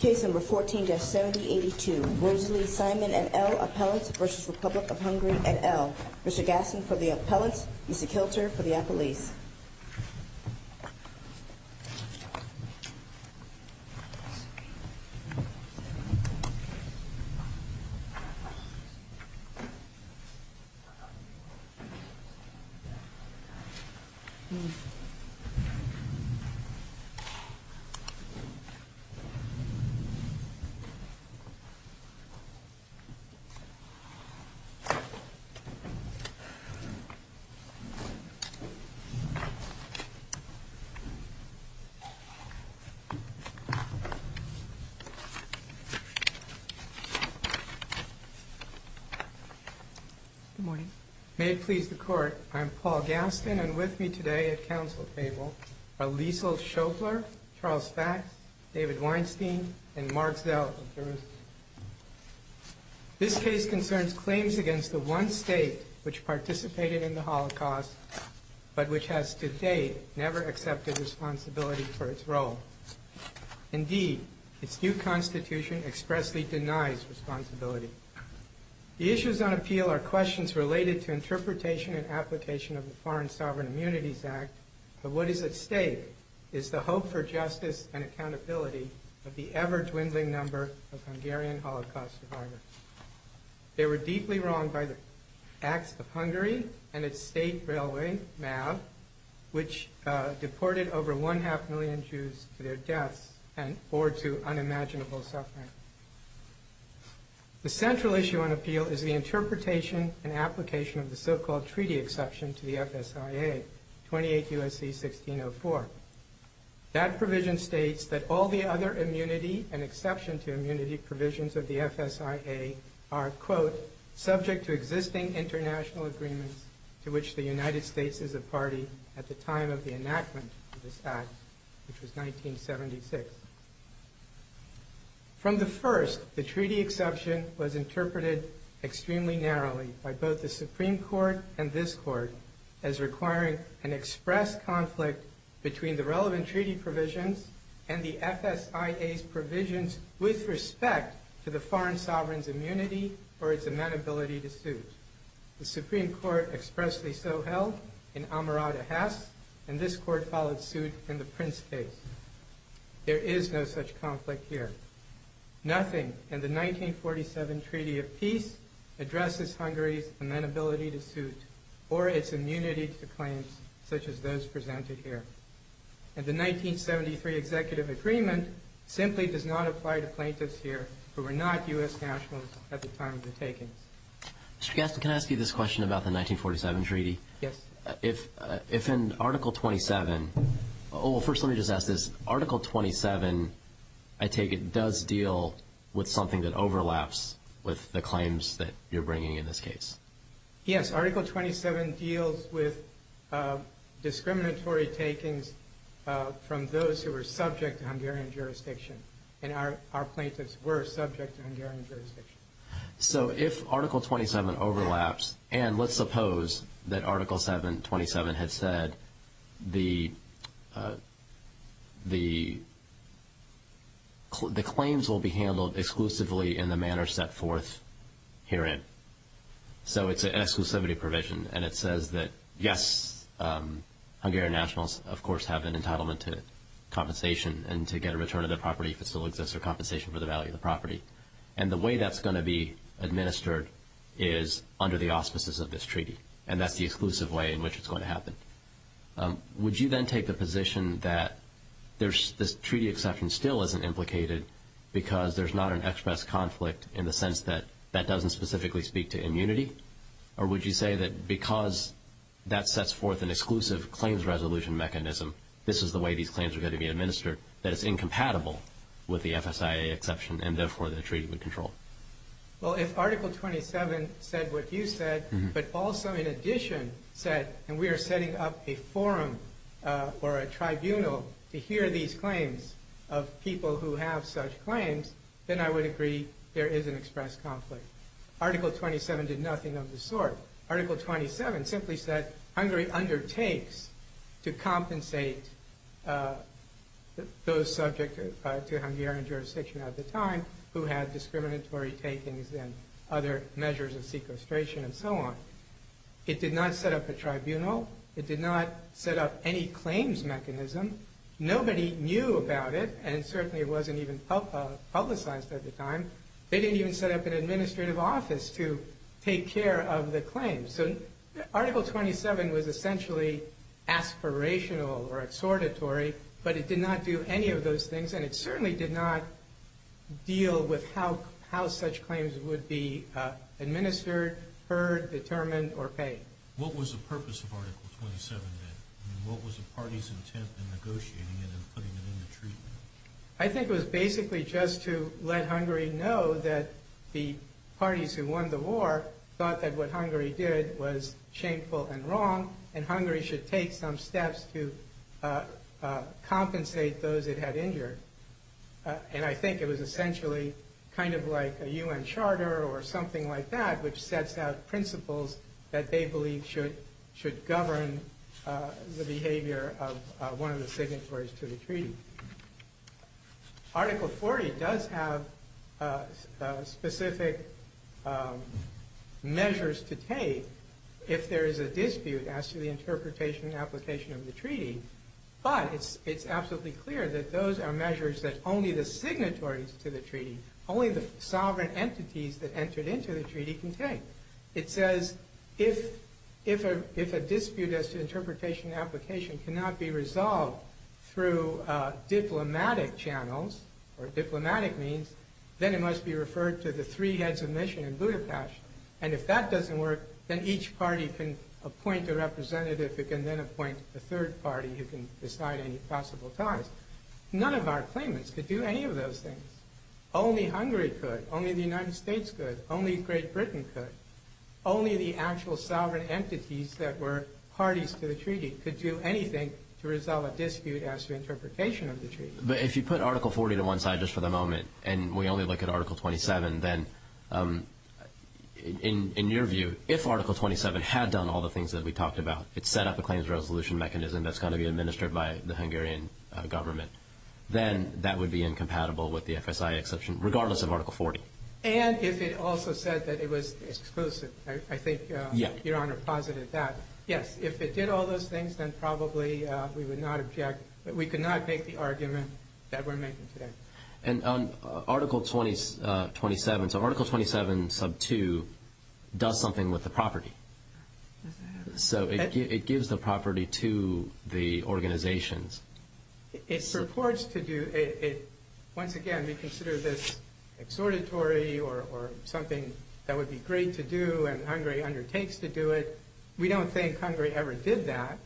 Case number 14-7082. Rosalie Simon et al. Appellants v. Republic of Hungary et al. Mr. Gasson for the appellants, Mrs. Kilter for the appellees. Good morning. May it please the court, I am Paul Gasson and with me today at council table are Liesl Schofler, Charles Fax, David Weinstein, and Mark Zell of Jerusalem. This case concerns claims against the one state which participated in the Holocaust, but which has to date never accepted responsibility for its role. Indeed, its new constitution expressly denies responsibility. The issues on appeal are questions related to interpretation and application of the Foreign Sovereign Immunities Act, but what is at stake is the hope for justice and accountability of the ever dwindling number of Hungarian Holocaust survivors. They were deeply wronged by the Acts of Hungary and its state railway, MAV, which deported over one half million Jews to their deaths and bore to unimaginable suffering. The central issue on appeal is the interpretation and application of the so-called treaty exception to the FSIA, 28 U.S.C. 1604. That provision states that all the other immunity and exception to immunity provisions of the FSIA are, quote, subject to existing international agreements to which the United States is a party at the time of the enactment of this Act, which was treaty exception was interpreted extremely narrowly by both the Supreme Court and this Court as requiring an express conflict between the relevant treaty provisions and the FSIA's provisions with respect to the foreign sovereign's immunity or its amenability to suit. The Supreme Court expressly so held in Amarada Hess, and this Court followed suit in the Prince case. There is no such conflict here. Nothing in the 1947 Treaty of Peace addresses Hungary's amenability to suit or its immunity to claims such as those presented here. And the 1973 Executive Agreement simply does not apply to plaintiffs here who were not U.S. nationals at the time of the takings. Mr. Gaston, can I ask you this question about the 1947 Treaty? Yes. If in Article 27, oh, first let me just ask this. Article 27, I take it, does deal with something that overlaps with the claims that you're bringing in this case? Yes, Article 27 deals with discriminatory takings from those who were subject to Hungarian jurisdiction, and our plaintiffs were subject to Hungarian jurisdiction. So if Article 27 overlaps, and let's suppose that Article 27 had said the claims will be handled exclusively in the manner set forth herein. So it's an exclusivity provision, and it says that, yes, Hungarian nationals, of course, have an entitlement to compensation and to get a return of their property if it still exists or compensation for the value of the property. And the way that's going to be administered is under the auspices of this treaty, and that's the exclusive way in which it's going to happen. Would you then take the position that this treaty exception still isn't implicated because there's not an express conflict in the sense that that doesn't specifically speak to immunity? Or would you say that because that sets forth an exclusive claims resolution mechanism, this is the way these claims are going to be administered, that it's incompatible with the FSIA exception, and therefore the treaty would control? Well, if Article 27 said what you said, but also in addition said, and we are setting up a forum or a tribunal to hear these claims of people who have such claims, then I would agree there is an express conflict. Article 27 did nothing of the sort. Article 27 simply states that Hungary undertakes to compensate those subject to Hungarian jurisdiction at the time who had discriminatory takings and other measures of sequestration and so on. It did not set up a tribunal. It did not set up any claims mechanism. Nobody knew about it, and certainly it wasn't even publicized at the time. They didn't even set up an Article 27 was essentially aspirational or exhortatory, but it did not do any of those things, and it certainly did not deal with how such claims would be administered, heard, determined, or paid. What was the purpose of Article 27 then? I mean, what was the party's intent in negotiating it and putting it into treatment? I think it was basically just to let Hungary know that the parties who won the war thought that what Hungary did was shameful and wrong, and Hungary should take some steps to compensate those it had injured. And I think it was essentially kind of like a U.N. charter or something like that, which sets out principles that they believe should govern the behavior of one party. Article 40 does have specific measures to take if there is a dispute as to the interpretation and application of the treaty, but it's absolutely clear that those are measures that only the signatories to the treaty, only the sovereign entities that entered into the treaty can take. It says if a dispute as to interpretation and application cannot be resolved through diplomatic channels or diplomatic means, then it must be referred to the three heads of mission in Budapest. And if that doesn't work, then each party can appoint a representative who can then appoint a third party who can decide any possible ties. None of our claimants could do any of those things. Only Hungary could. Only the United States could. Only Great Britain could. Only the actual sovereign entities that were parties to the treaty could do anything to resolve a dispute as to interpretation of the treaty. But if you put Article 40 to one side just for the moment, and we only look at Article 27, then, in your view, if Article 27 had done all the things that we talked about, it set up a claims resolution mechanism that's going to be administered by the Hungarian government, then that would be incompatible with the FSI exception, regardless of Article 40. And if it also said that it was exclusive. I think Your Honor posited that. Yes. If it did all those things, then probably we would not object. We could not make the argument that we're making today. And on Article 27, so Article 27 sub 2 does something with the property. Does it? So it gives the property to the organizations. It purports to do it. Once again, we consider this exhortatory or something that would be great to do and Hungary undertakes to do it. We don't think Hungary ever did that.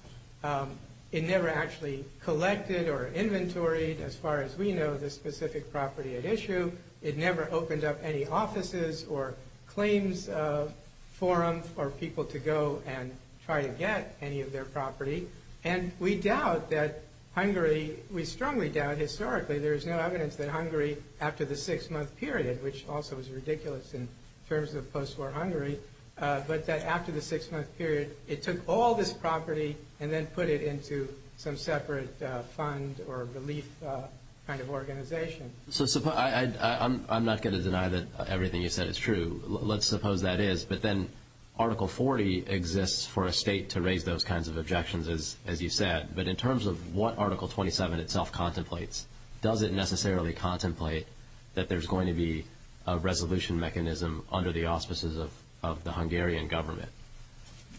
It never actually collected or inventoried, as far as we know, the specific property at issue. It never opened up any offices or claims forum for people to go and try to get any of their property. And we doubt that Hungary, we strongly doubt, historically, there is no evidence that Hungary after the six-month period, which also is ridiculous in terms of post-war Hungary, but that after the six-month period, it took all this property and then put it into some separate fund or relief kind of organization. So I'm not going to deny that everything you said is true. Let's suppose that is. But then Article 40 exists for a state to raise those kinds of objections, as you said. But in terms of what Article 27 itself contemplates, does it necessarily contemplate that there's going to be a resolution mechanism under the auspices of the Hungarian government?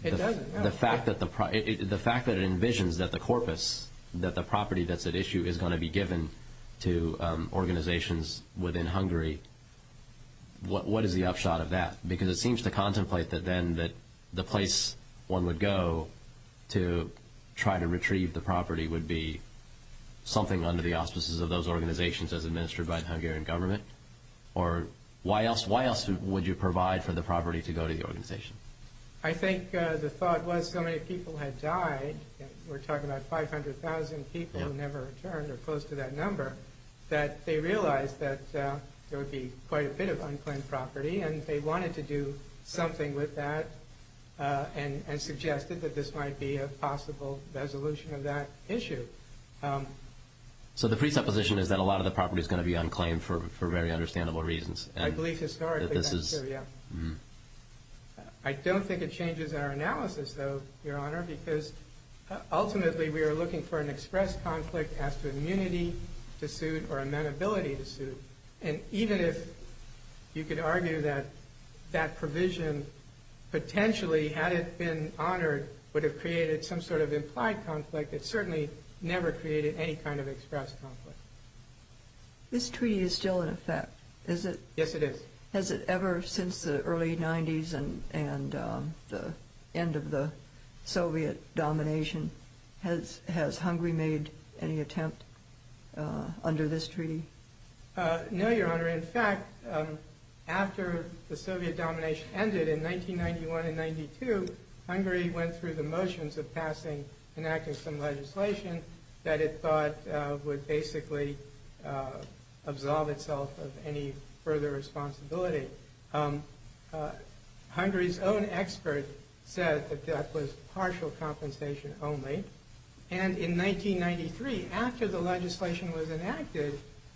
It doesn't. The fact that it envisions that the corpus, that the property that's at issue is going to be given to organizations within Hungary, what is the upshot of that? Because it seems to contemplate that then the place one would go to try to retrieve the property would be something under the auspices of those organizations as administered by the Hungarian government? Or why else would you provide for the property to go to the organization? I think the thought was so many people had died, we're talking about 500,000 people who never returned or close to that number, that they realized that there would be quite a bit of unclaimed property, and they wanted to do something with that and suggested that this might be a possible resolution of that issue. So the presupposition is that a lot of the property is going to be unclaimed for very understandable reasons. I believe historically that's true, yeah. I don't think it changes our analysis, though, Your Honor, because ultimately we are looking for an express conflict as to immunity to You could argue that that provision potentially, had it been honored, would have created some sort of implied conflict. It certainly never created any kind of express conflict. This treaty is still in effect, is it? Yes, it is. Has it ever, since the early 90s and the end of the Soviet domination, has Hungary made any attempt under this treaty? No, Your Honor. In fact, after the Soviet domination ended in 1991 and 1992, Hungary went through the motions of passing, enacting some legislation that it thought would basically absolve itself of any further responsibility. Hungary's own expert said that that was partial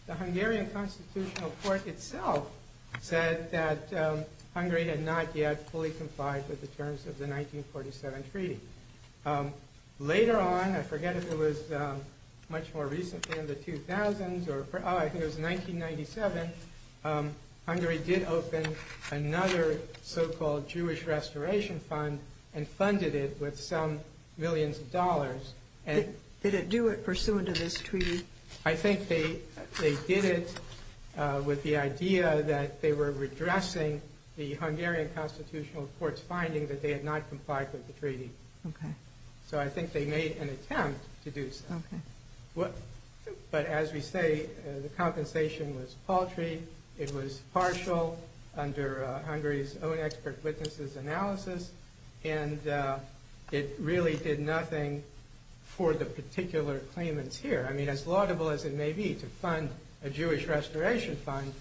The Hungarian constitutional court itself said that Hungary had not yet fully complied with the terms of the 1947 treaty. Later on, I forget if it was much more recently in the 2000s, oh, I think it was 1997, Hungary did open another so-called Jewish restoration fund and funded it with some millions of dollars. Did it do it pursuant to this treaty? I think they did it with the idea that they were redressing the Hungarian constitutional court's finding that they had not complied with the treaty. So I think they made an attempt to do so. But as we say, the compensation was paltry, it was partial under Hungary's own expert witnesses' analysis, and it really did nothing for the particular claimants here. I mean, as laudable as it may be to fund a Jewish restoration fund,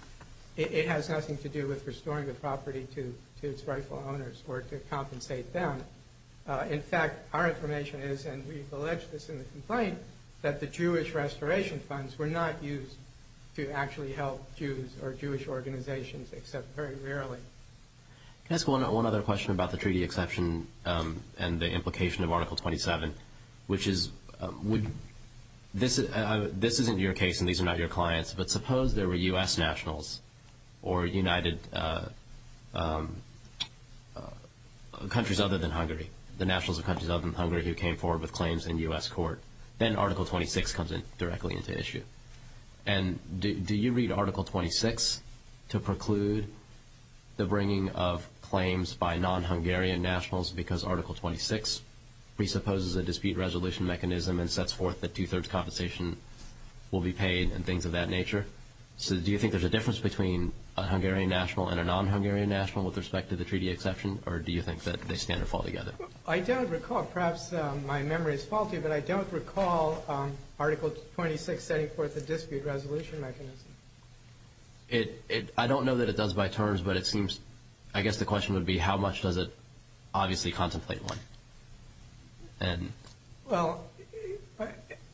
it has nothing to do with restoring the property to its rightful owners or to compensate them. In fact, our information is, and we've alleged this in the complaint, that the Jewish restoration funds were not used to actually help Jews or Jewish organizations, except very rarely. Can I ask one other question about the treaty exception and the implication of Article 27, which is, this isn't your case and these are not your clients, but suppose there were U.S. nationals or countries other than Hungary, the nationals of countries other than Hungary who came forward with claims in U.S. court, then Article 26 comes directly into issue. And do you read Article 26 to preclude the bringing of claims by non-Hungarian nationals because Article 26 presupposes a dispute resolution mechanism and sets forth that two-thirds compensation will be paid and things of that nature? So do you think there's a difference between a Hungarian national and a non-Hungarian national with respect to the treaty exception, or do you think that they stand or fall together? I don't recall. Perhaps my memory is faulty, but I don't recall Article 26 setting forth a dispute resolution mechanism. I don't know that it does by terms, but it seems, I guess the question would be, how much does it obviously contemplate one? Well,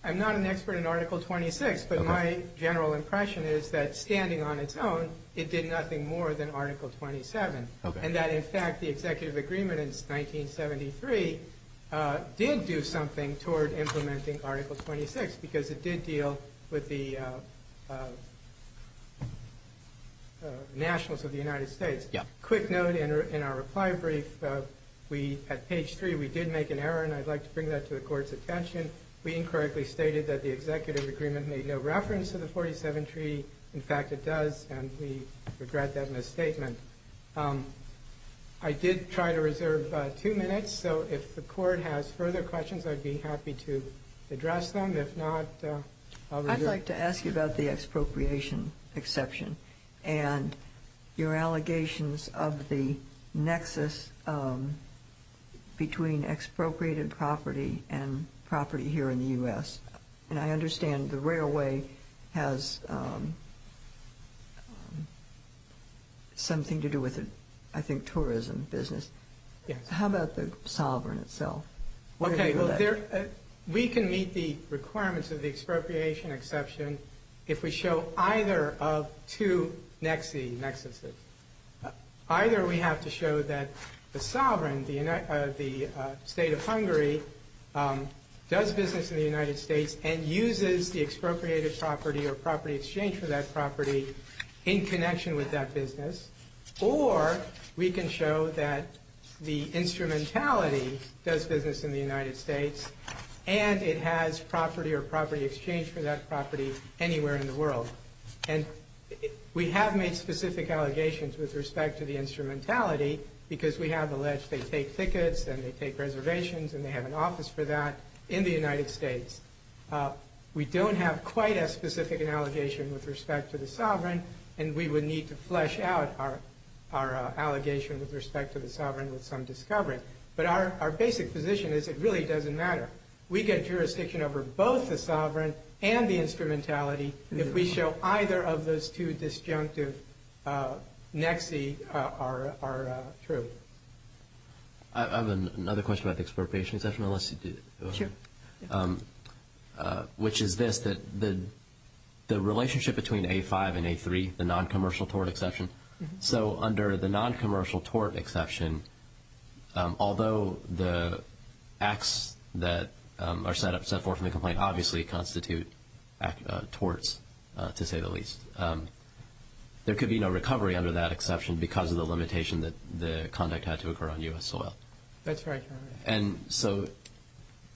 I'm not an expert in Article 26, but my general impression is that, standing on its own, it did nothing more than Article 27, and that, in fact, the executive agreement in 1973 did do something toward implementing Article 26 because it did deal with the nationals of the United States. Yes. A quick note in our reply brief. We, at page 3, we did make an error, and I'd like to bring that to the Court's attention. We incorrectly stated that the executive agreement made no reference to the 1947 treaty. In fact, it does, and we regret that misstatement. I did try to reserve two minutes, so if the Court has further questions, I'd be happy to address them. If not, I'll reserve. I'd like to ask you about the expropriation exception and your allegations of the nexus between expropriated property and property here in the U.S. And I understand the railway has something to do with, I think, tourism business. Yes. How about the sovereign itself? Okay. Well, we can meet the requirements of the expropriation exception if we show either of two nexuses. Either we have to show that the sovereign, the state of Hungary, does business in the United States and uses the expropriated property or property exchange for that property in connection with that business, or we can show that the instrumentality does business in the United States and it has property or property exchange for that property anywhere in the world. And we have made specific allegations with respect to the instrumentality because we have alleged they take tickets and they take reservations and they have an office for that in the United States. We don't have quite as specific an allegation with respect to the sovereign, and we would need to flesh out our allegation with respect to the sovereign with some discovery. But our basic position is it really doesn't matter. We get jurisdiction over both the sovereign and the instrumentality if we show either of those two disjunctive nexi are true. I have another question about the expropriation exception. Sure. Which is this, that the relationship between A5 and A3, the noncommercial tourist exception, so under the noncommercial tort exception, although the acts that are set forth in the complaint obviously constitute torts, to say the least, there could be no recovery under that exception because of the limitation that the conduct had to occur on U.S. soil. That's right. And so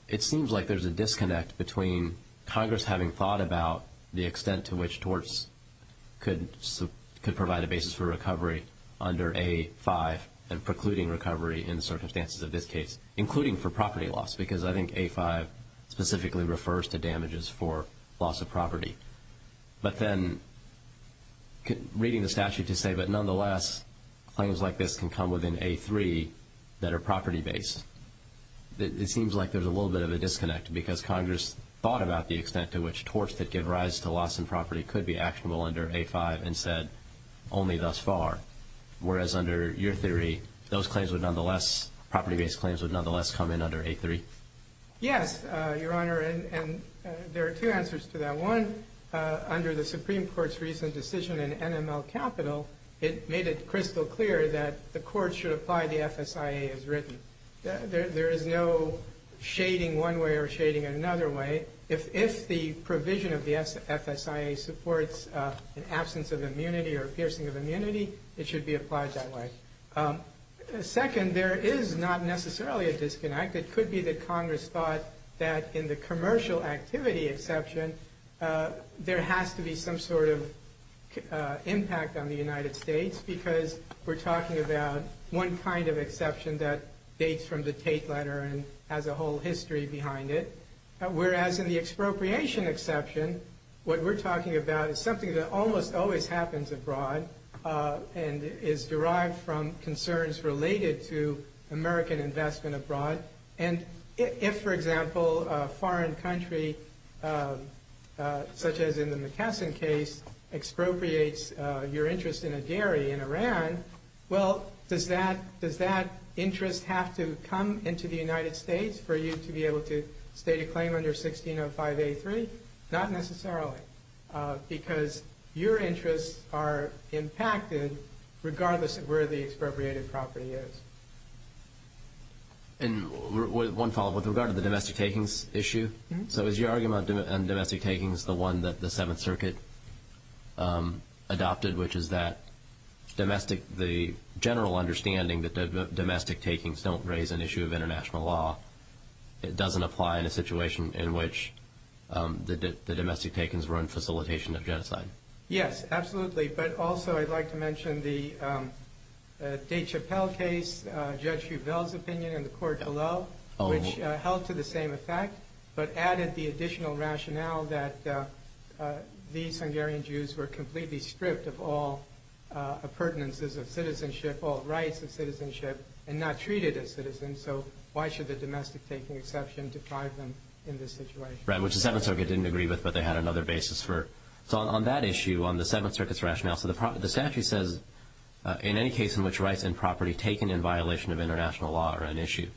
it seems like there's a disconnect between Congress having thought about the damages for recovery under A5 and precluding recovery in the circumstances of this case, including for property loss, because I think A5 specifically refers to damages for loss of property. But then reading the statute to say, but nonetheless, claims like this can come within A3 that are property-based, it seems like there's a little bit of a disconnect because Congress thought about the extent to which torts that give rise to loss in property could be actionable under A5 and said, only thus far, whereas under your theory, those claims would nonetheless, property-based claims would nonetheless come in under A3? Yes, Your Honor, and there are two answers to that. One, under the Supreme Court's recent decision in NML Capital, it made it crystal clear that the Court should apply the FSIA as written. There is no shading one way or shading another way. If the provision of the FSIA supports an absence of immunity or a piercing of immunity, it should be applied that way. Second, there is not necessarily a disconnect. It could be that Congress thought that in the commercial activity exception, there has to be some sort of impact on the United States because we're talking about one kind of exception that dates from the Tate letter and has a whole history behind it, whereas in the expropriation exception, what we're talking about is something that almost always happens abroad and is derived from concerns related to American investment abroad. And if, for example, a foreign country, such as in the McKesson case, expropriates your interest in a dairy in Iran, well, does that interest have to come into the United States for you to be able to state a claim under 1605A3? Not necessarily, because your interests are impacted regardless of where the expropriated property is. And one follow-up with regard to the domestic takings issue. So is your argument on domestic takings the one that the Seventh Circuit adopted, which is that the general understanding that domestic takings don't raise an issue of international law, it doesn't apply in a situation in which the domestic takings were in facilitation of genocide? Yes, absolutely. But also I'd like to mention the De Chapelle case, Judge Hubell's opinion in the court below, which held to the same effect but added the additional rationale that these Hungarian Jews were completely stripped of all appurtenances of citizenship, all rights of citizenship, and not treated as citizens. So why should the domestic taking exception deprive them in this situation? Right, which the Seventh Circuit didn't agree with, but they had another basis for it. So on that issue, on the Seventh Circuit's rationale, so the statute says in any case in which rights and property taken in violation of international law are an issue.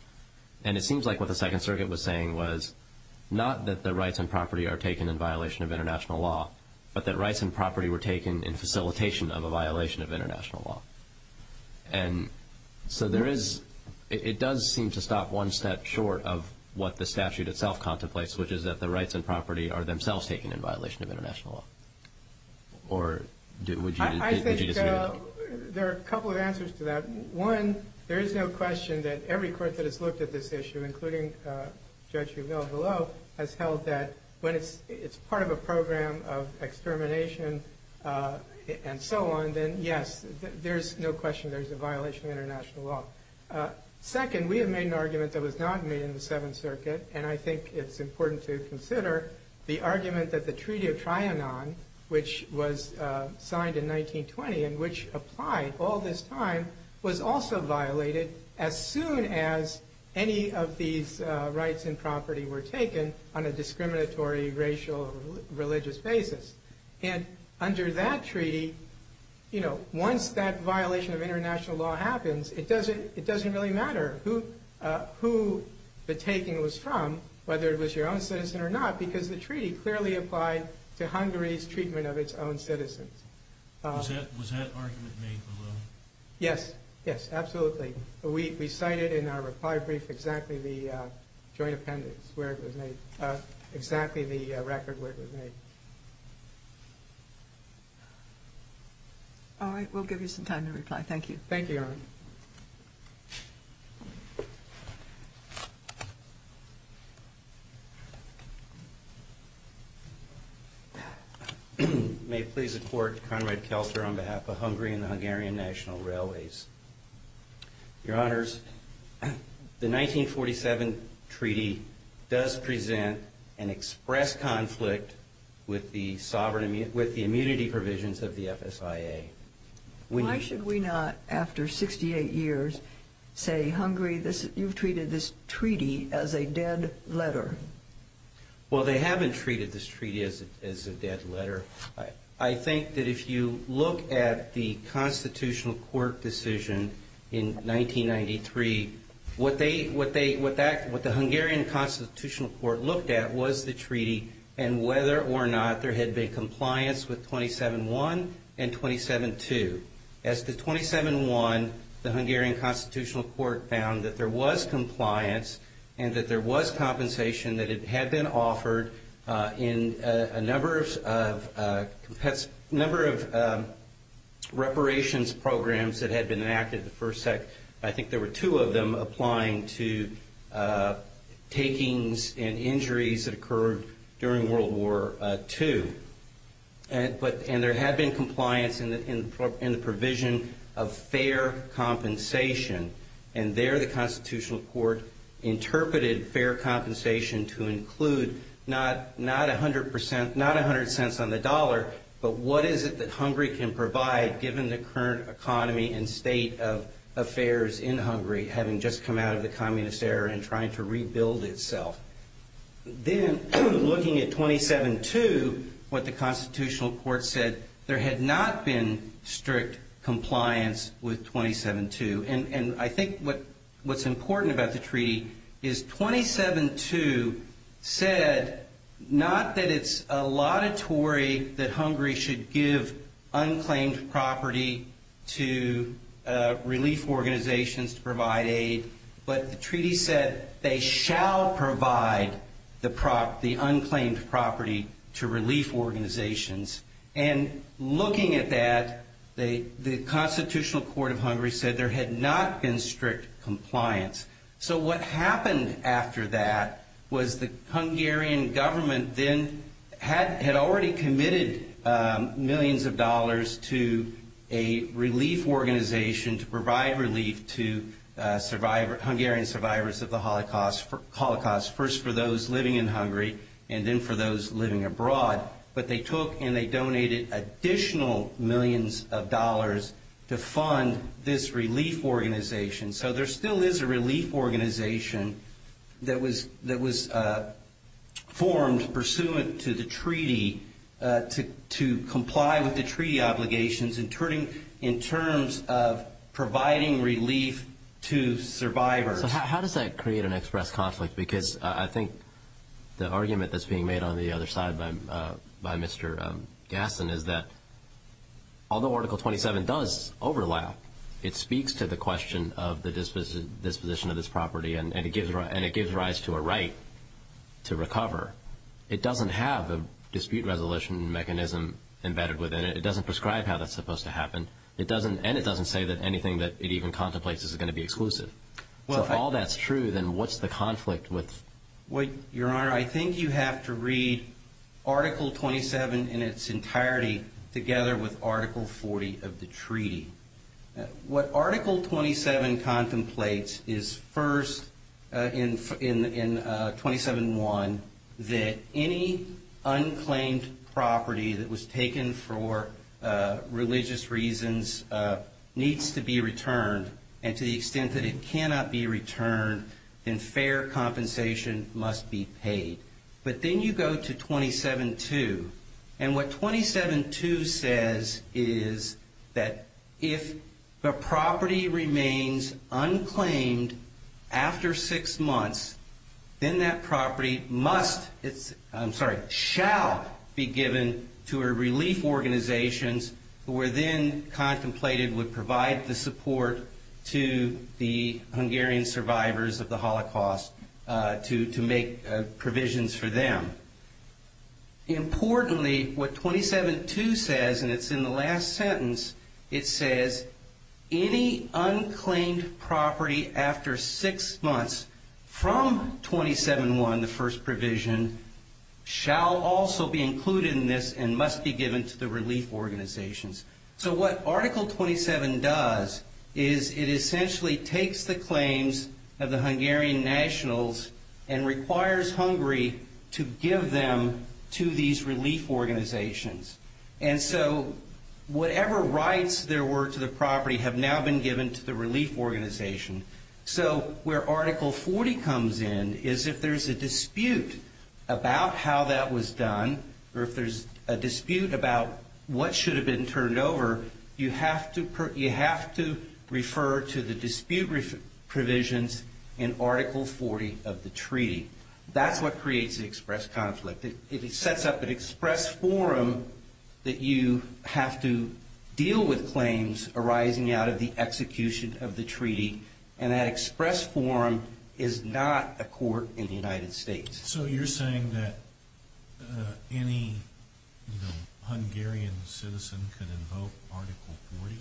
And it seems like what the Second Circuit was saying was not that the rights and property are taken in violation of international law, but that rights and property were taken in facilitation of a violation of international law. And so there is, it does seem to stop one step short of what the statute itself contemplates, which is that the rights and property are themselves taken in violation of international law. Or would you disagree with that? I think there are a couple of answers to that. One, there is no question that every court that has looked at this issue, including Judge Hubell below, has held that when it's part of a program of extermination and so on, then yes, there's no question there's a violation of international law. Second, we have made an argument that was not made in the Seventh Circuit, and I think it's important to consider the argument that the Treaty of Trianon, which was signed in 1920 and which applied all this time, was also violated as soon as any of these rights and property were taken on a discriminatory racial or religious basis. And under that treaty, you know, once that violation of international law happens, it doesn't really matter who the taking was from, whether it was your own citizen or not, because the treaty clearly applied to Hungary's treatment of its own citizens. Was that argument made below? Yes, yes, absolutely. We cited in our reply brief exactly the joint appendix where it was made, exactly the record where it was made. All right. We'll give you some time to reply. Thank you. Thank you, Your Honor. May it please the Court, Conrad Kelster on behalf of Hungary and the Hungarian National Railways. Your Honors, the 1947 treaty does present an express conflict with the immunity provisions of the FSIA. Why should we not, after 68 years, say Hungary, you've treated this treaty as a dead letter? Well, they haven't treated this treaty as a dead letter. I think that if you look at the Constitutional Court decision in 1993, what the Hungarian Constitutional Court looked at was the treaty and whether or not there had been compliance with 27.1 and 27.2. As to 27.1, the Hungarian Constitutional Court found that there was compliance and that there was compensation that had been offered in a number of reparations programs that had been enacted. I think there were two of them applying to takings and injuries that occurred during World War II. And there had been compliance in the provision of fair compensation, and there the Constitutional Court interpreted fair compensation to include not 100 cents on the dollar, but what is it that Hungary can provide given the current economy and state of affairs in Hungary, having just come out of the communist era and trying to rebuild itself. Then, looking at 27.2, what the Constitutional Court said, there had not been strict compliance with 27.2. And I think what's important about the treaty is 27.2 said not that it's a lot of Tory that Hungary should give unclaimed property to relief organizations to provide aid, but the treaty said they shall provide the unclaimed property to relief organizations. And looking at that, the Constitutional Court of Hungary said there had not been strict compliance. So what happened after that was the Hungarian government then had already committed millions of dollars to a relief organization to provide relief to Hungarian survivors of the Holocaust, first for those living in Hungary and then for those living abroad. But they took and they donated additional millions of dollars to fund this relief organization. So there still is a relief organization that was formed pursuant to the treaty to comply with the treaty obligations in terms of providing relief to survivors. So how does that create an express conflict? Because I think the argument that's being made on the other side by Mr. Gasson is that although Article 27 does overlap, it speaks to the question of the disposition of this property and it gives rise to a right to recover. It doesn't have a dispute resolution mechanism embedded within it. It doesn't prescribe how that's supposed to happen. And it doesn't say that anything that it even contemplates is going to be exclusive. So if all that's true, then what's the conflict with? Your Honor, I think you have to read Article 27 in its entirety together with Article 40 of the treaty. What Article 27 contemplates is first in 27.1 that any unclaimed property that was taken for religious reasons needs to be returned. And to the extent that it cannot be returned, then fair compensation must be paid. But then you go to 27.2. And what 27.2 says is that if the property remains unclaimed after six months, then that property must, I'm sorry, shall be given to a relief organization who were then contemplated would provide the support to the Hungarian survivors of the Holocaust to make provisions for them. Importantly, what 27.2 says, and it's in the last sentence, it says any unclaimed property after six months from 27.1, the first provision, shall also be included in this and must be given to the relief organizations. So what Article 27 does is it essentially takes the claims of the Hungarian nationals and requires Hungary to give them to these relief organizations. And so whatever rights there were to the property have now been given to the relief organization. So where Article 40 comes in is if there's a dispute about how that was done or if there's a dispute about what should have been turned over, you have to refer to the dispute provisions in Article 40 of the treaty. That's what creates the express conflict. It sets up an express forum that you have to deal with claims arising out of the execution of the treaty. And that express forum is not a court in the United States. So you're saying that any Hungarian citizen could invoke Article 40?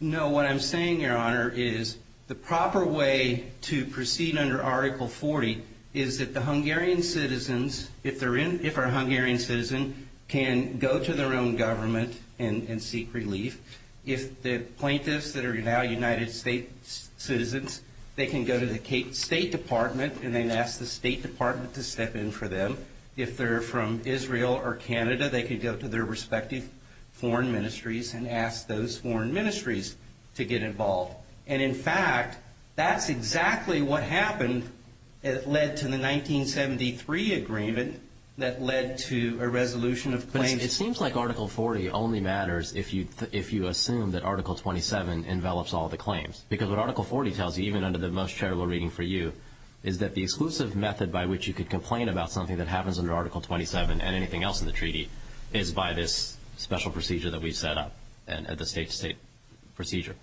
No, what I'm saying, Your Honor, is the proper way to proceed under Article 40 is that the Hungarian citizens, if they're a Hungarian citizen, can go to their own government and seek relief. If the plaintiffs that are now United States citizens, they can go to the State Department and then ask the State Department to step in for them. If they're from Israel or Canada, they could go to their respective foreign ministries and ask those foreign ministries to get involved. And, in fact, that's exactly what happened. It led to the 1973 agreement that led to a resolution of claims. But it seems like Article 40 only matters if you assume that Article 27 envelops all the claims. Because what Article 40 tells you, even under the most charitable reading for you, is that the exclusive method by which you could complain about something that happens under Article 27 and anything else in the treaty is by this special procedure that we set up at the state-to-state procedure.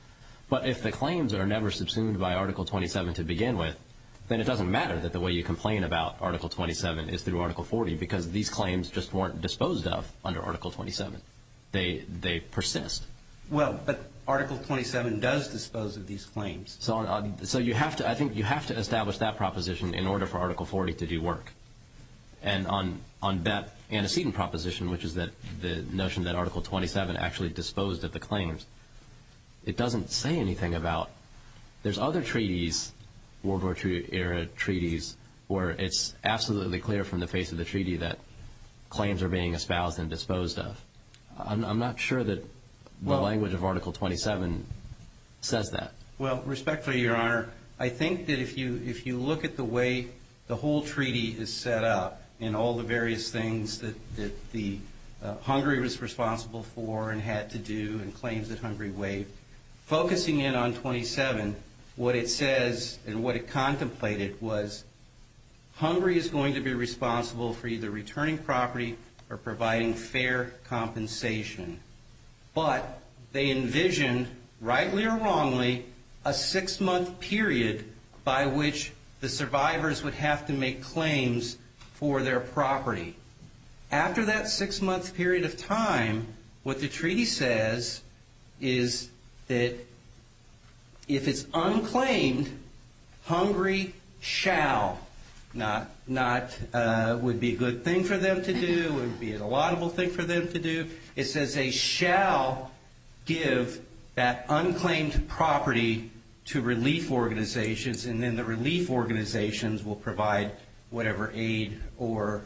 But if the claims are never subsumed by Article 27 to begin with, then it doesn't matter that the way you complain about Article 27 is through Article 40 because these claims just weren't disposed of under Article 27. They persist. Well, but Article 27 does dispose of these claims. So I think you have to establish that proposition in order for Article 40 to do work. And on that antecedent proposition, which is the notion that Article 27 actually disposed of the claims, it doesn't say anything about there's other treaties, World War II-era treaties, where it's absolutely clear from the face of the treaty that claims are being espoused and disposed of. I'm not sure that the language of Article 27 says that. Well, respectfully, Your Honor, I think that if you look at the way the whole treaty is set up and all the various things that Hungary was responsible for and had to do and claims that Hungary waived, focusing in on 27, what it says and what it contemplated was Hungary is going to be responsible for either returning property or providing fair compensation. But they envisioned, rightly or wrongly, a six-month period by which the survivors would have to make claims for their property. After that six-month period of time, what the treaty says is that if it's unclaimed, Hungary shall, not would be a good thing for them to do, would be a laudable thing for them to do. It says they shall give that unclaimed property to relief organizations, and then the relief organizations will provide whatever aid or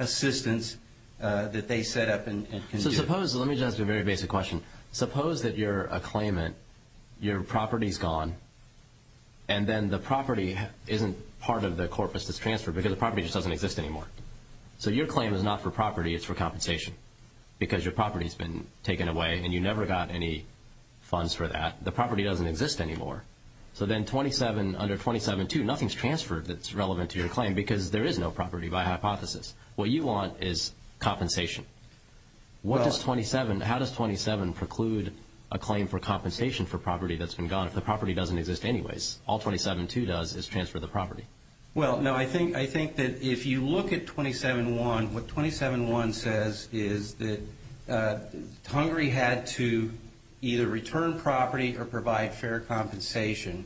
assistance that they set up and can do. So suppose, let me just ask you a very basic question. Suppose that you're a claimant, your property's gone, and then the property isn't part of the corpus that's transferred because the property just doesn't exist anymore. So your claim is not for property, it's for compensation because your property's been taken away and you never got any funds for that. The property doesn't exist anymore. So then 27 under 27.2, nothing's transferred that's relevant to your claim because there is no property by hypothesis. What you want is compensation. How does 27 preclude a claim for compensation for property that's been gone if the property doesn't exist anyways? All 27.2 does is transfer the property. Well, no, I think that if you look at 27.1, what 27.1 says is that Hungary had to either return property or provide fair compensation.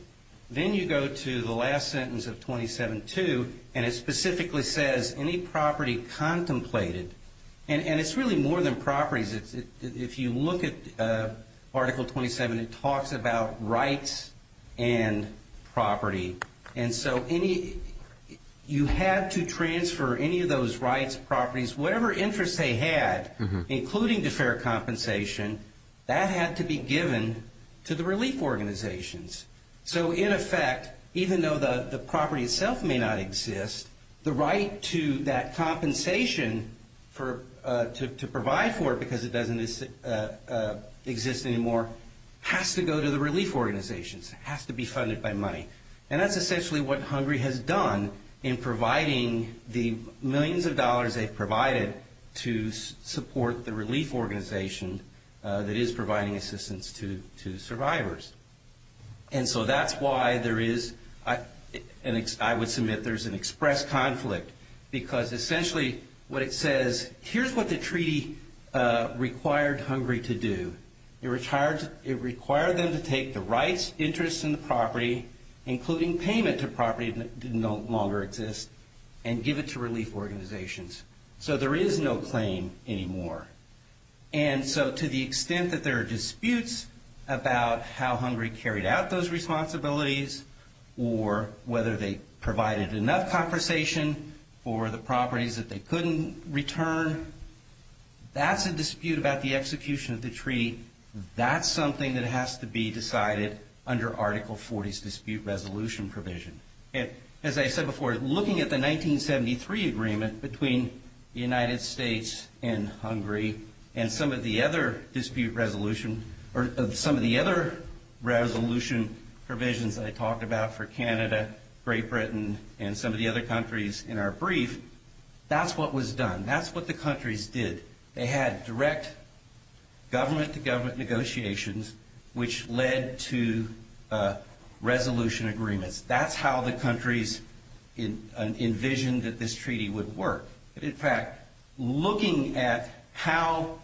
Then you go to the last sentence of 27.2, and it specifically says any property contemplated, and it's really more than properties. If you look at Article 27, it talks about rights and property. And so you had to transfer any of those rights, properties, whatever interest they had, including the fair compensation, that had to be given to the relief organizations. So in effect, even though the property itself may not exist, the right to that compensation, to provide for it because it doesn't exist anymore, has to go to the relief organizations. It has to be funded by money. And that's essentially what Hungary has done in providing the millions of dollars they've provided to support the relief organization that is providing assistance to survivors. And so that's why there is, and I would submit there's an express conflict, because essentially what it says, here's what the treaty required Hungary to do. It required them to take the rights, interests, and the property, including payment to property that no longer exists, and give it to relief organizations. So there is no claim anymore. And so to the extent that there are disputes about how Hungary carried out those responsibilities or whether they provided enough compensation for the properties that they couldn't return, that's a dispute about the execution of the treaty. That's something that has to be decided under Article 40's dispute resolution provision. As I said before, looking at the 1973 agreement between the United States and Hungary, and some of the other dispute resolution, or some of the other resolution provisions that I talked about for Canada, Great Britain, and some of the other countries in our brief, that's what was done. That's what the countries did. They had direct government-to-government negotiations, which led to resolution agreements. That's how the countries envisioned that this treaty would work. In fact, looking at how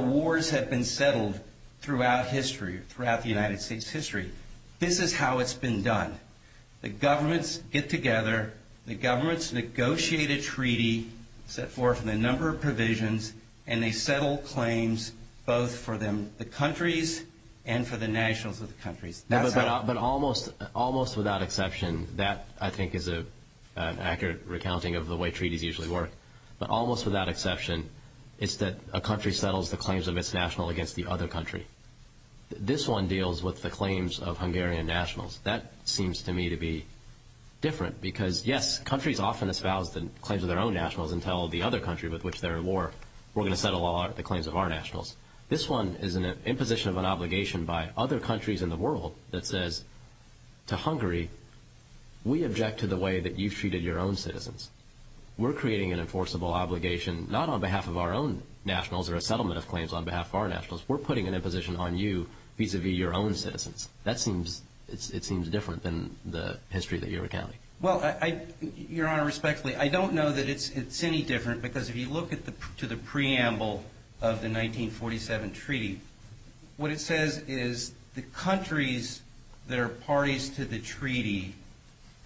wars have been settled throughout history, throughout the United States' history, this is how it's been done. The governments get together. The governments negotiate a treaty set forth in a number of provisions, and they settle claims both for the countries and for the nationals of the countries. But almost without exception, that I think is an accurate recounting of the way treaties usually work, but almost without exception, it's that a country settles the claims of its national against the other country. This one deals with the claims of Hungarian nationals. That seems to me to be different because, yes, countries often espouse the claims of their own nationals and tell the other country with which they're at war, we're going to settle the claims of our nationals. This one is an imposition of an obligation by other countries in the world that says to Hungary, we object to the way that you've treated your own citizens. We're creating an enforceable obligation not on behalf of our own nationals or a settlement of claims on behalf of our nationals. We're putting an imposition on you vis-à-vis your own citizens. That seems different than the history that you're recounting. Well, Your Honor, respectfully, I don't know that it's any different because if you look to the preamble of the 1947 treaty, what it says is the countries that are parties to the treaty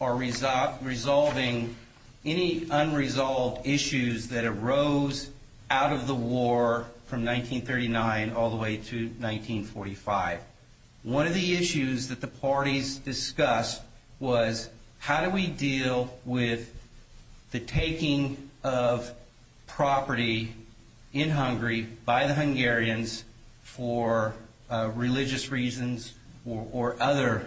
are resolving any unresolved issues that arose out of the war from 1939 all the way to 1945. One of the issues that the parties discussed was how do we deal with the taking of property in Hungary by the Hungarians for religious reasons or other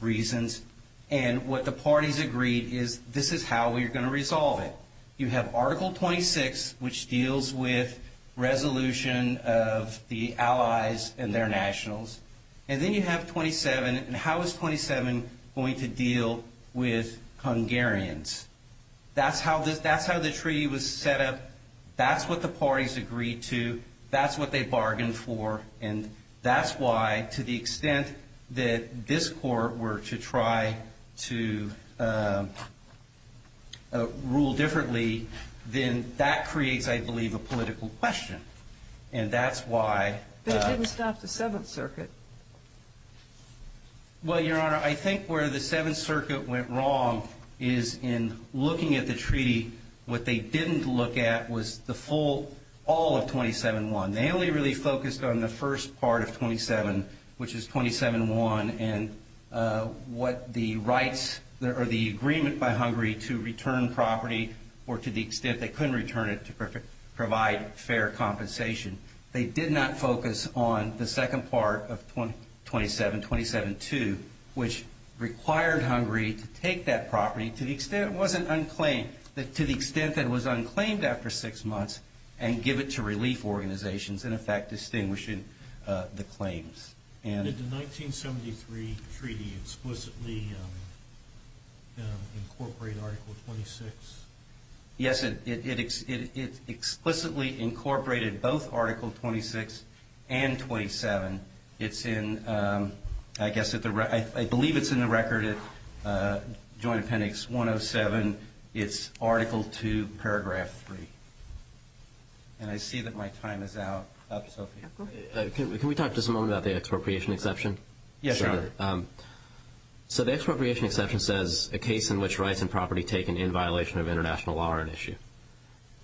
reasons, and what the parties agreed is this is how we're going to resolve it. You have Article 26, which deals with resolution of the allies and their nationals, and then you have 27, and how is 27 going to deal with Hungarians? That's how the treaty was set up. That's what the parties agreed to. That's what they bargained for, and that's why to the extent that this Court were to try to rule differently, then that creates, I believe, a political question, and that's why. But it didn't stop the Seventh Circuit. Well, Your Honor, I think where the Seventh Circuit went wrong is in looking at the treaty. What they didn't look at was the full all of 27-1. They only really focused on the first part of 27, which is 27-1, and what the rights or the agreement by Hungary to return property or to the extent they couldn't return it to provide fair compensation. They did not focus on the second part of 27-2, which required Hungary to take that property to the extent that it was unclaimed after six months and give it to relief organizations in effect distinguishing the claims. Did the 1973 treaty explicitly incorporate Article 26? Yes, it explicitly incorporated both Article 26 and 27. I believe it's in the record at Joint Appendix 107. It's Article 2, Paragraph 3. And I see that my time is out. Can we talk just a moment about the expropriation exception? Yes, Your Honor. So the expropriation exception says a case in which rights and property taken in violation of international law are an issue.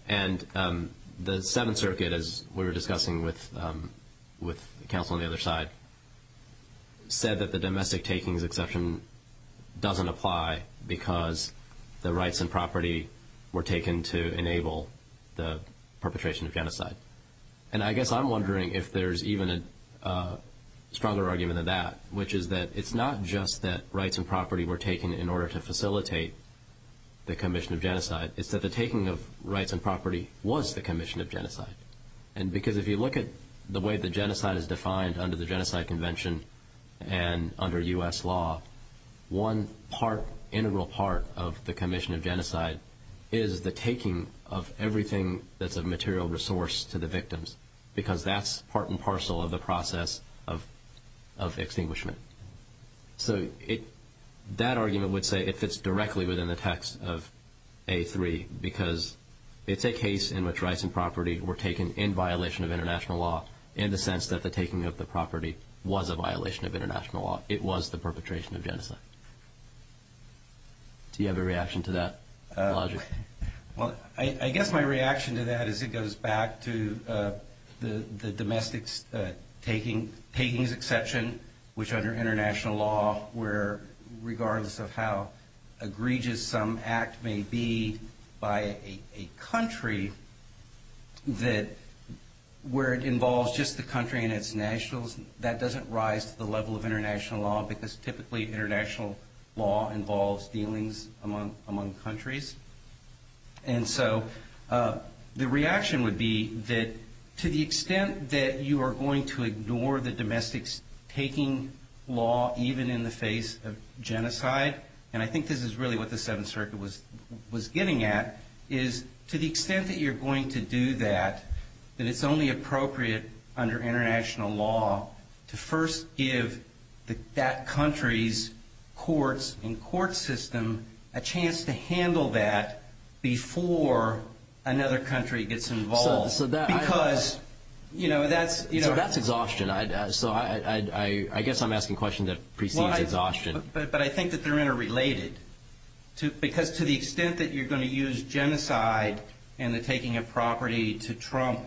And the Seventh Circuit, as we were discussing with counsel on the other side, said that the domestic takings exception doesn't apply because the rights and property were taken to enable the perpetration of genocide. And I guess I'm wondering if there's even a stronger argument than that, which is that it's not just that rights and property were taken in order to facilitate the commission of genocide. It's that the taking of rights and property was the commission of genocide. And because if you look at the way that genocide is defined under the Genocide Convention and under U.S. law, one part, integral part of the commission of genocide is the taking of everything that's a material resource to the victims because that's part and parcel of the process of extinguishment. So that argument would say it fits directly within the text of A3 because it's a case in which rights and property were taken in violation of international law in the sense that the taking of the property was a violation of international law. It was the perpetration of genocide. Do you have a reaction to that logic? Well, I guess my reaction to that is it goes back to the domestic takings exception, which under international law, where regardless of how egregious some act may be by a country, that where it involves just the country and its nationals, that doesn't rise to the level of international law because typically international law involves dealings among countries. And so the reaction would be that to the extent that you are going to ignore the domestic taking law even in the face of genocide, and I think this is really what the Seventh Circuit was getting at, is to the extent that you're going to do that, that it's only appropriate under international law to first give that country's courts and court system a chance to handle that before another country gets involved. So that's exhaustion. So I guess I'm asking a question that precedes exhaustion. But I think that they're interrelated because to the extent that you're going to use genocide and the taking of property to trump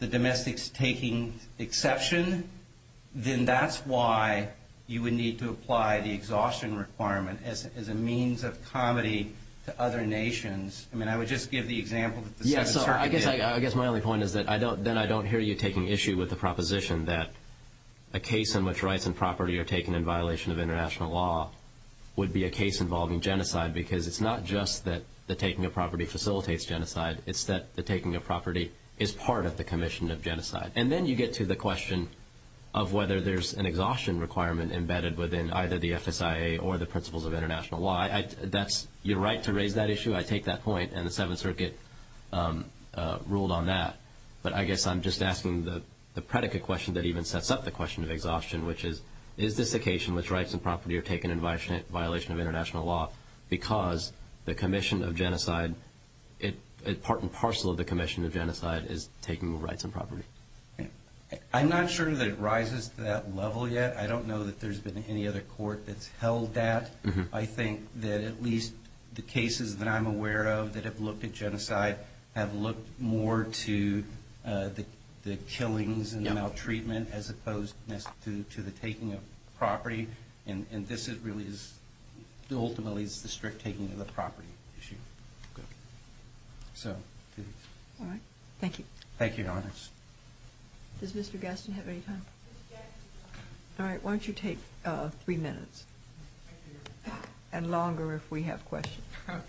the domestic taking exception, then that's why you would need to apply the exhaustion requirement as a means of comedy to other nations. I mean, I would just give the example that the Seventh Circuit did. Yeah, so I guess my only point is that then I don't hear you taking issue with the proposition that a case in which rights and property are taken in violation of international law would be a case involving genocide because it's not just that the taking of property facilitates genocide, it's that the taking of property is part of the commission of genocide. And then you get to the question of whether there's an exhaustion requirement embedded within either the FSIA or the principles of international law. You're right to raise that issue. I take that point, and the Seventh Circuit ruled on that. But I guess I'm just asking the predicate question that even sets up the question of exhaustion, which is, is this occasion in which rights and property are taken in violation of international law because the commission of genocide, part and parcel of the commission of genocide, is taking rights and property? I'm not sure that it rises to that level yet. I don't know that there's been any other court that's held that. I think that at least the cases that I'm aware of that have looked at genocide have looked more to the killings and the maltreatment as opposed to the taking of property, and this really is ultimately the strict taking of the property issue. All right. Thank you. Thank you, Your Honors. Does Mr. Gaston have any time? All right, why don't you take three minutes and longer if we have questions. Okay.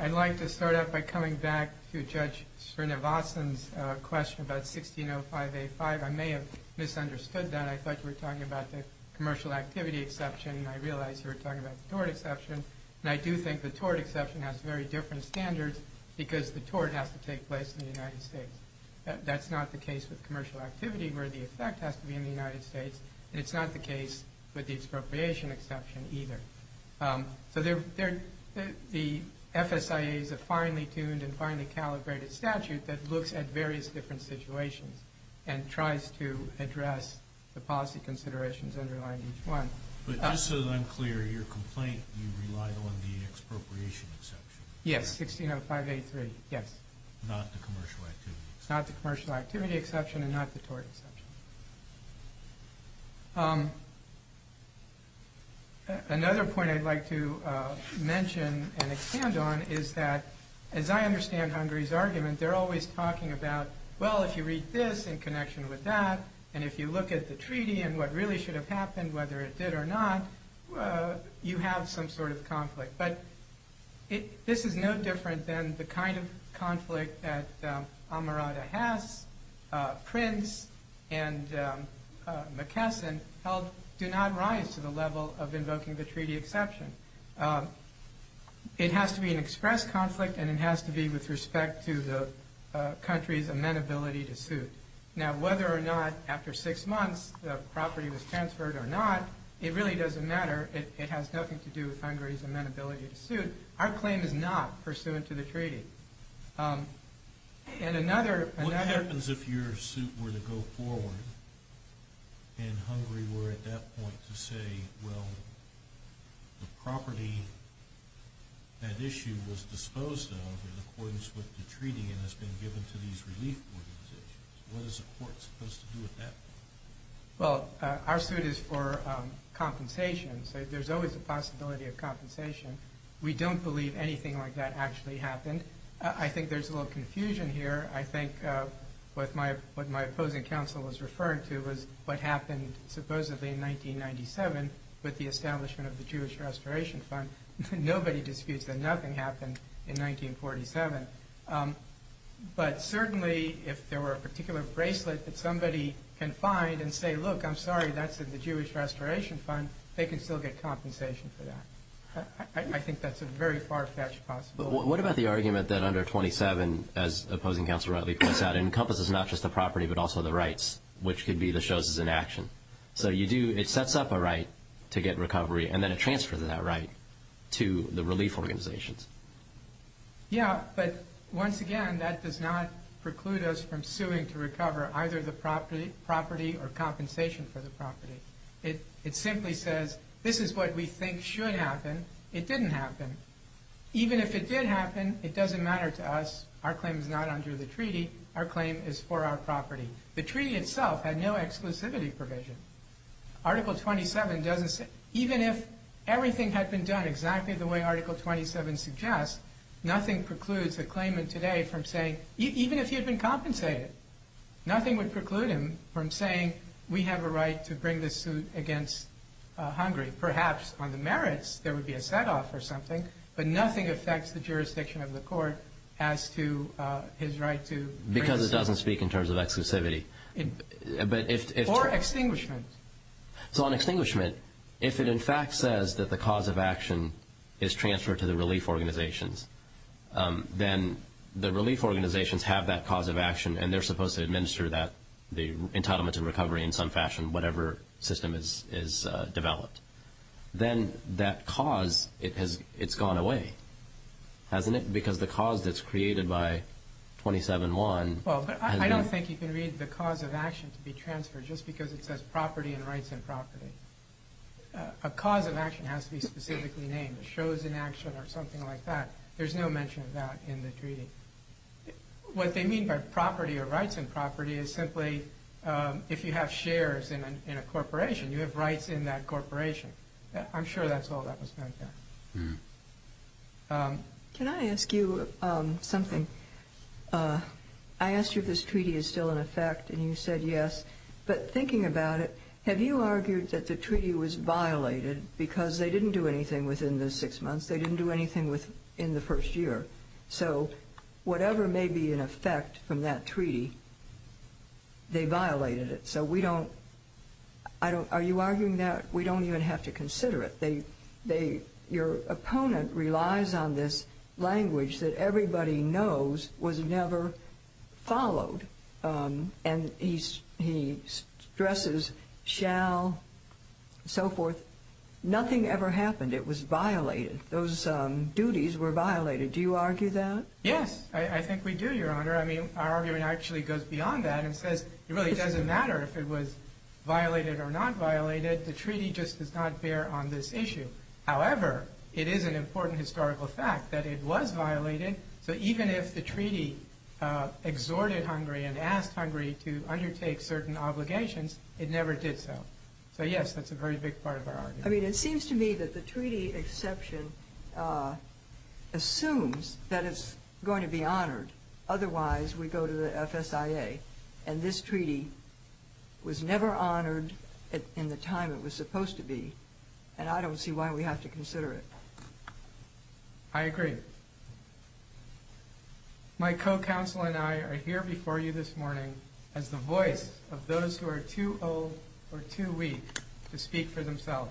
I'd like to start out by coming back to Judge Srinivasan's question about 1605A5. I may have misunderstood that. I thought you were talking about the commercial activity exception, and I realized you were talking about the tort exception. And I do think the tort exception has very different standards because the tort has to take place in the United States. That's not the case with commercial activity where the effect has to be in the United States, and it's not the case with the expropriation exception either. So the FSIA is a finely tuned and finely calibrated statute that looks at various different situations and tries to address the policy considerations underlying each one. But just so that I'm clear, your complaint, you relied on the expropriation exception. Yes, 1605A3, yes. Not the commercial activity exception. Not the commercial activity exception and not the tort exception. Another point I'd like to mention and expand on is that as I understand Hungary's argument, they're always talking about, well, if you read this in connection with that, and if you look at the treaty and what really should have happened, whether it did or not, you have some sort of conflict. But this is no different than the kind of conflict that Amarada has, Prince, and McKesson held do not rise to the level of invoking the treaty exception. It has to be an express conflict, and it has to be with respect to the country's amenability to suit. Now, whether or not after six months the property was transferred or not, it really doesn't matter. It has nothing to do with Hungary's amenability to suit. Our claim is not pursuant to the treaty. What happens if your suit were to go forward and Hungary were at that point to say, well, the property that issue was disposed of in accordance with the treaty and has been given to these relief organizations? What is the court supposed to do at that point? Well, our suit is for compensation, so there's always a possibility of compensation. We don't believe anything like that actually happened. I think there's a little confusion here. I think what my opposing counsel was referring to was what happened supposedly in 1997 with the establishment of the Jewish Restoration Fund. Nobody disputes that nothing happened in 1947. But certainly if there were a particular bracelet that somebody can find and say, look, I'm sorry, that's in the Jewish Restoration Fund, they can still get compensation for that. I think that's a very far-fetched possibility. What about the argument that under 27, as opposing counsel rightly points out, encompasses not just the property but also the rights, which could be the choses in action? So it sets up a right to get recovery and then it transfers that right to the relief organizations. Yeah, but once again, that does not preclude us from suing to recover either the property or compensation for the property. It simply says this is what we think should happen. It didn't happen. Even if it did happen, it doesn't matter to us. Our claim is not under the treaty. Our claim is for our property. The treaty itself had no exclusivity provision. Article 27 doesn't say... Even if everything had been done exactly the way Article 27 suggests, nothing precludes a claimant today from saying, even if he had been compensated, nothing would preclude him from saying, we have a right to bring this suit against Hungary. Perhaps on the merits there would be a set-off or something, but nothing affects the jurisdiction of the court as to his right to... Because it doesn't speak in terms of exclusivity. Or extinguishment. So on extinguishment, if it in fact says that the cause of action is transferred to the relief organizations, then the relief organizations have that cause of action and they're supposed to administer the entitlement to recovery in some fashion, whatever system is developed. Then that cause, it's gone away, hasn't it? Because the cause that's created by 27.1... I don't think you can read the cause of action to be transferred just because it says property and rights and property. A cause of action has to be specifically named. Shows in action or something like that. There's no mention of that in the treaty. What they mean by property or rights and property is simply if you have shares in a corporation, you have rights in that corporation. I'm sure that's all that was meant there. Can I ask you something? I asked you if this treaty is still in effect, and you said yes. But thinking about it, have you argued that the treaty was violated because they didn't do anything within the six months, they didn't do anything in the first year? So whatever may be in effect from that treaty, they violated it. So we don't... Are you arguing that we don't even have to consider it? Your opponent relies on this language that everybody knows was never followed. And he stresses shall and so forth. Nothing ever happened. It was violated. Those duties were violated. Do you argue that? Yes, I think we do, Your Honor. Our argument actually goes beyond that and says it really doesn't matter if it was violated or not violated. The treaty just does not bear on this issue. However, it is an important historical fact that it was violated. So even if the treaty exhorted Hungary and asked Hungary to undertake certain obligations, it never did so. So yes, that's a very big part of our argument. I mean, it seems to me that the treaty exception assumes that it's going to be honored. Otherwise, we go to the FSIA and this treaty was never honored in the time it was supposed to be. And I don't see why we have to consider it. I agree. My co-counsel and I are here before you this morning as the voice of those who are too old or too weak to speak for themselves.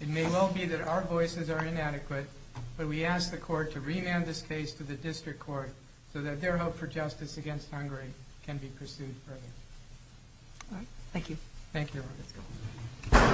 It may well be that our voices are inadequate, but we ask the court to remand this case to the district court so that their hope for justice against Hungary can be pursued further. All right. Thank you. Thank you, Your Honor.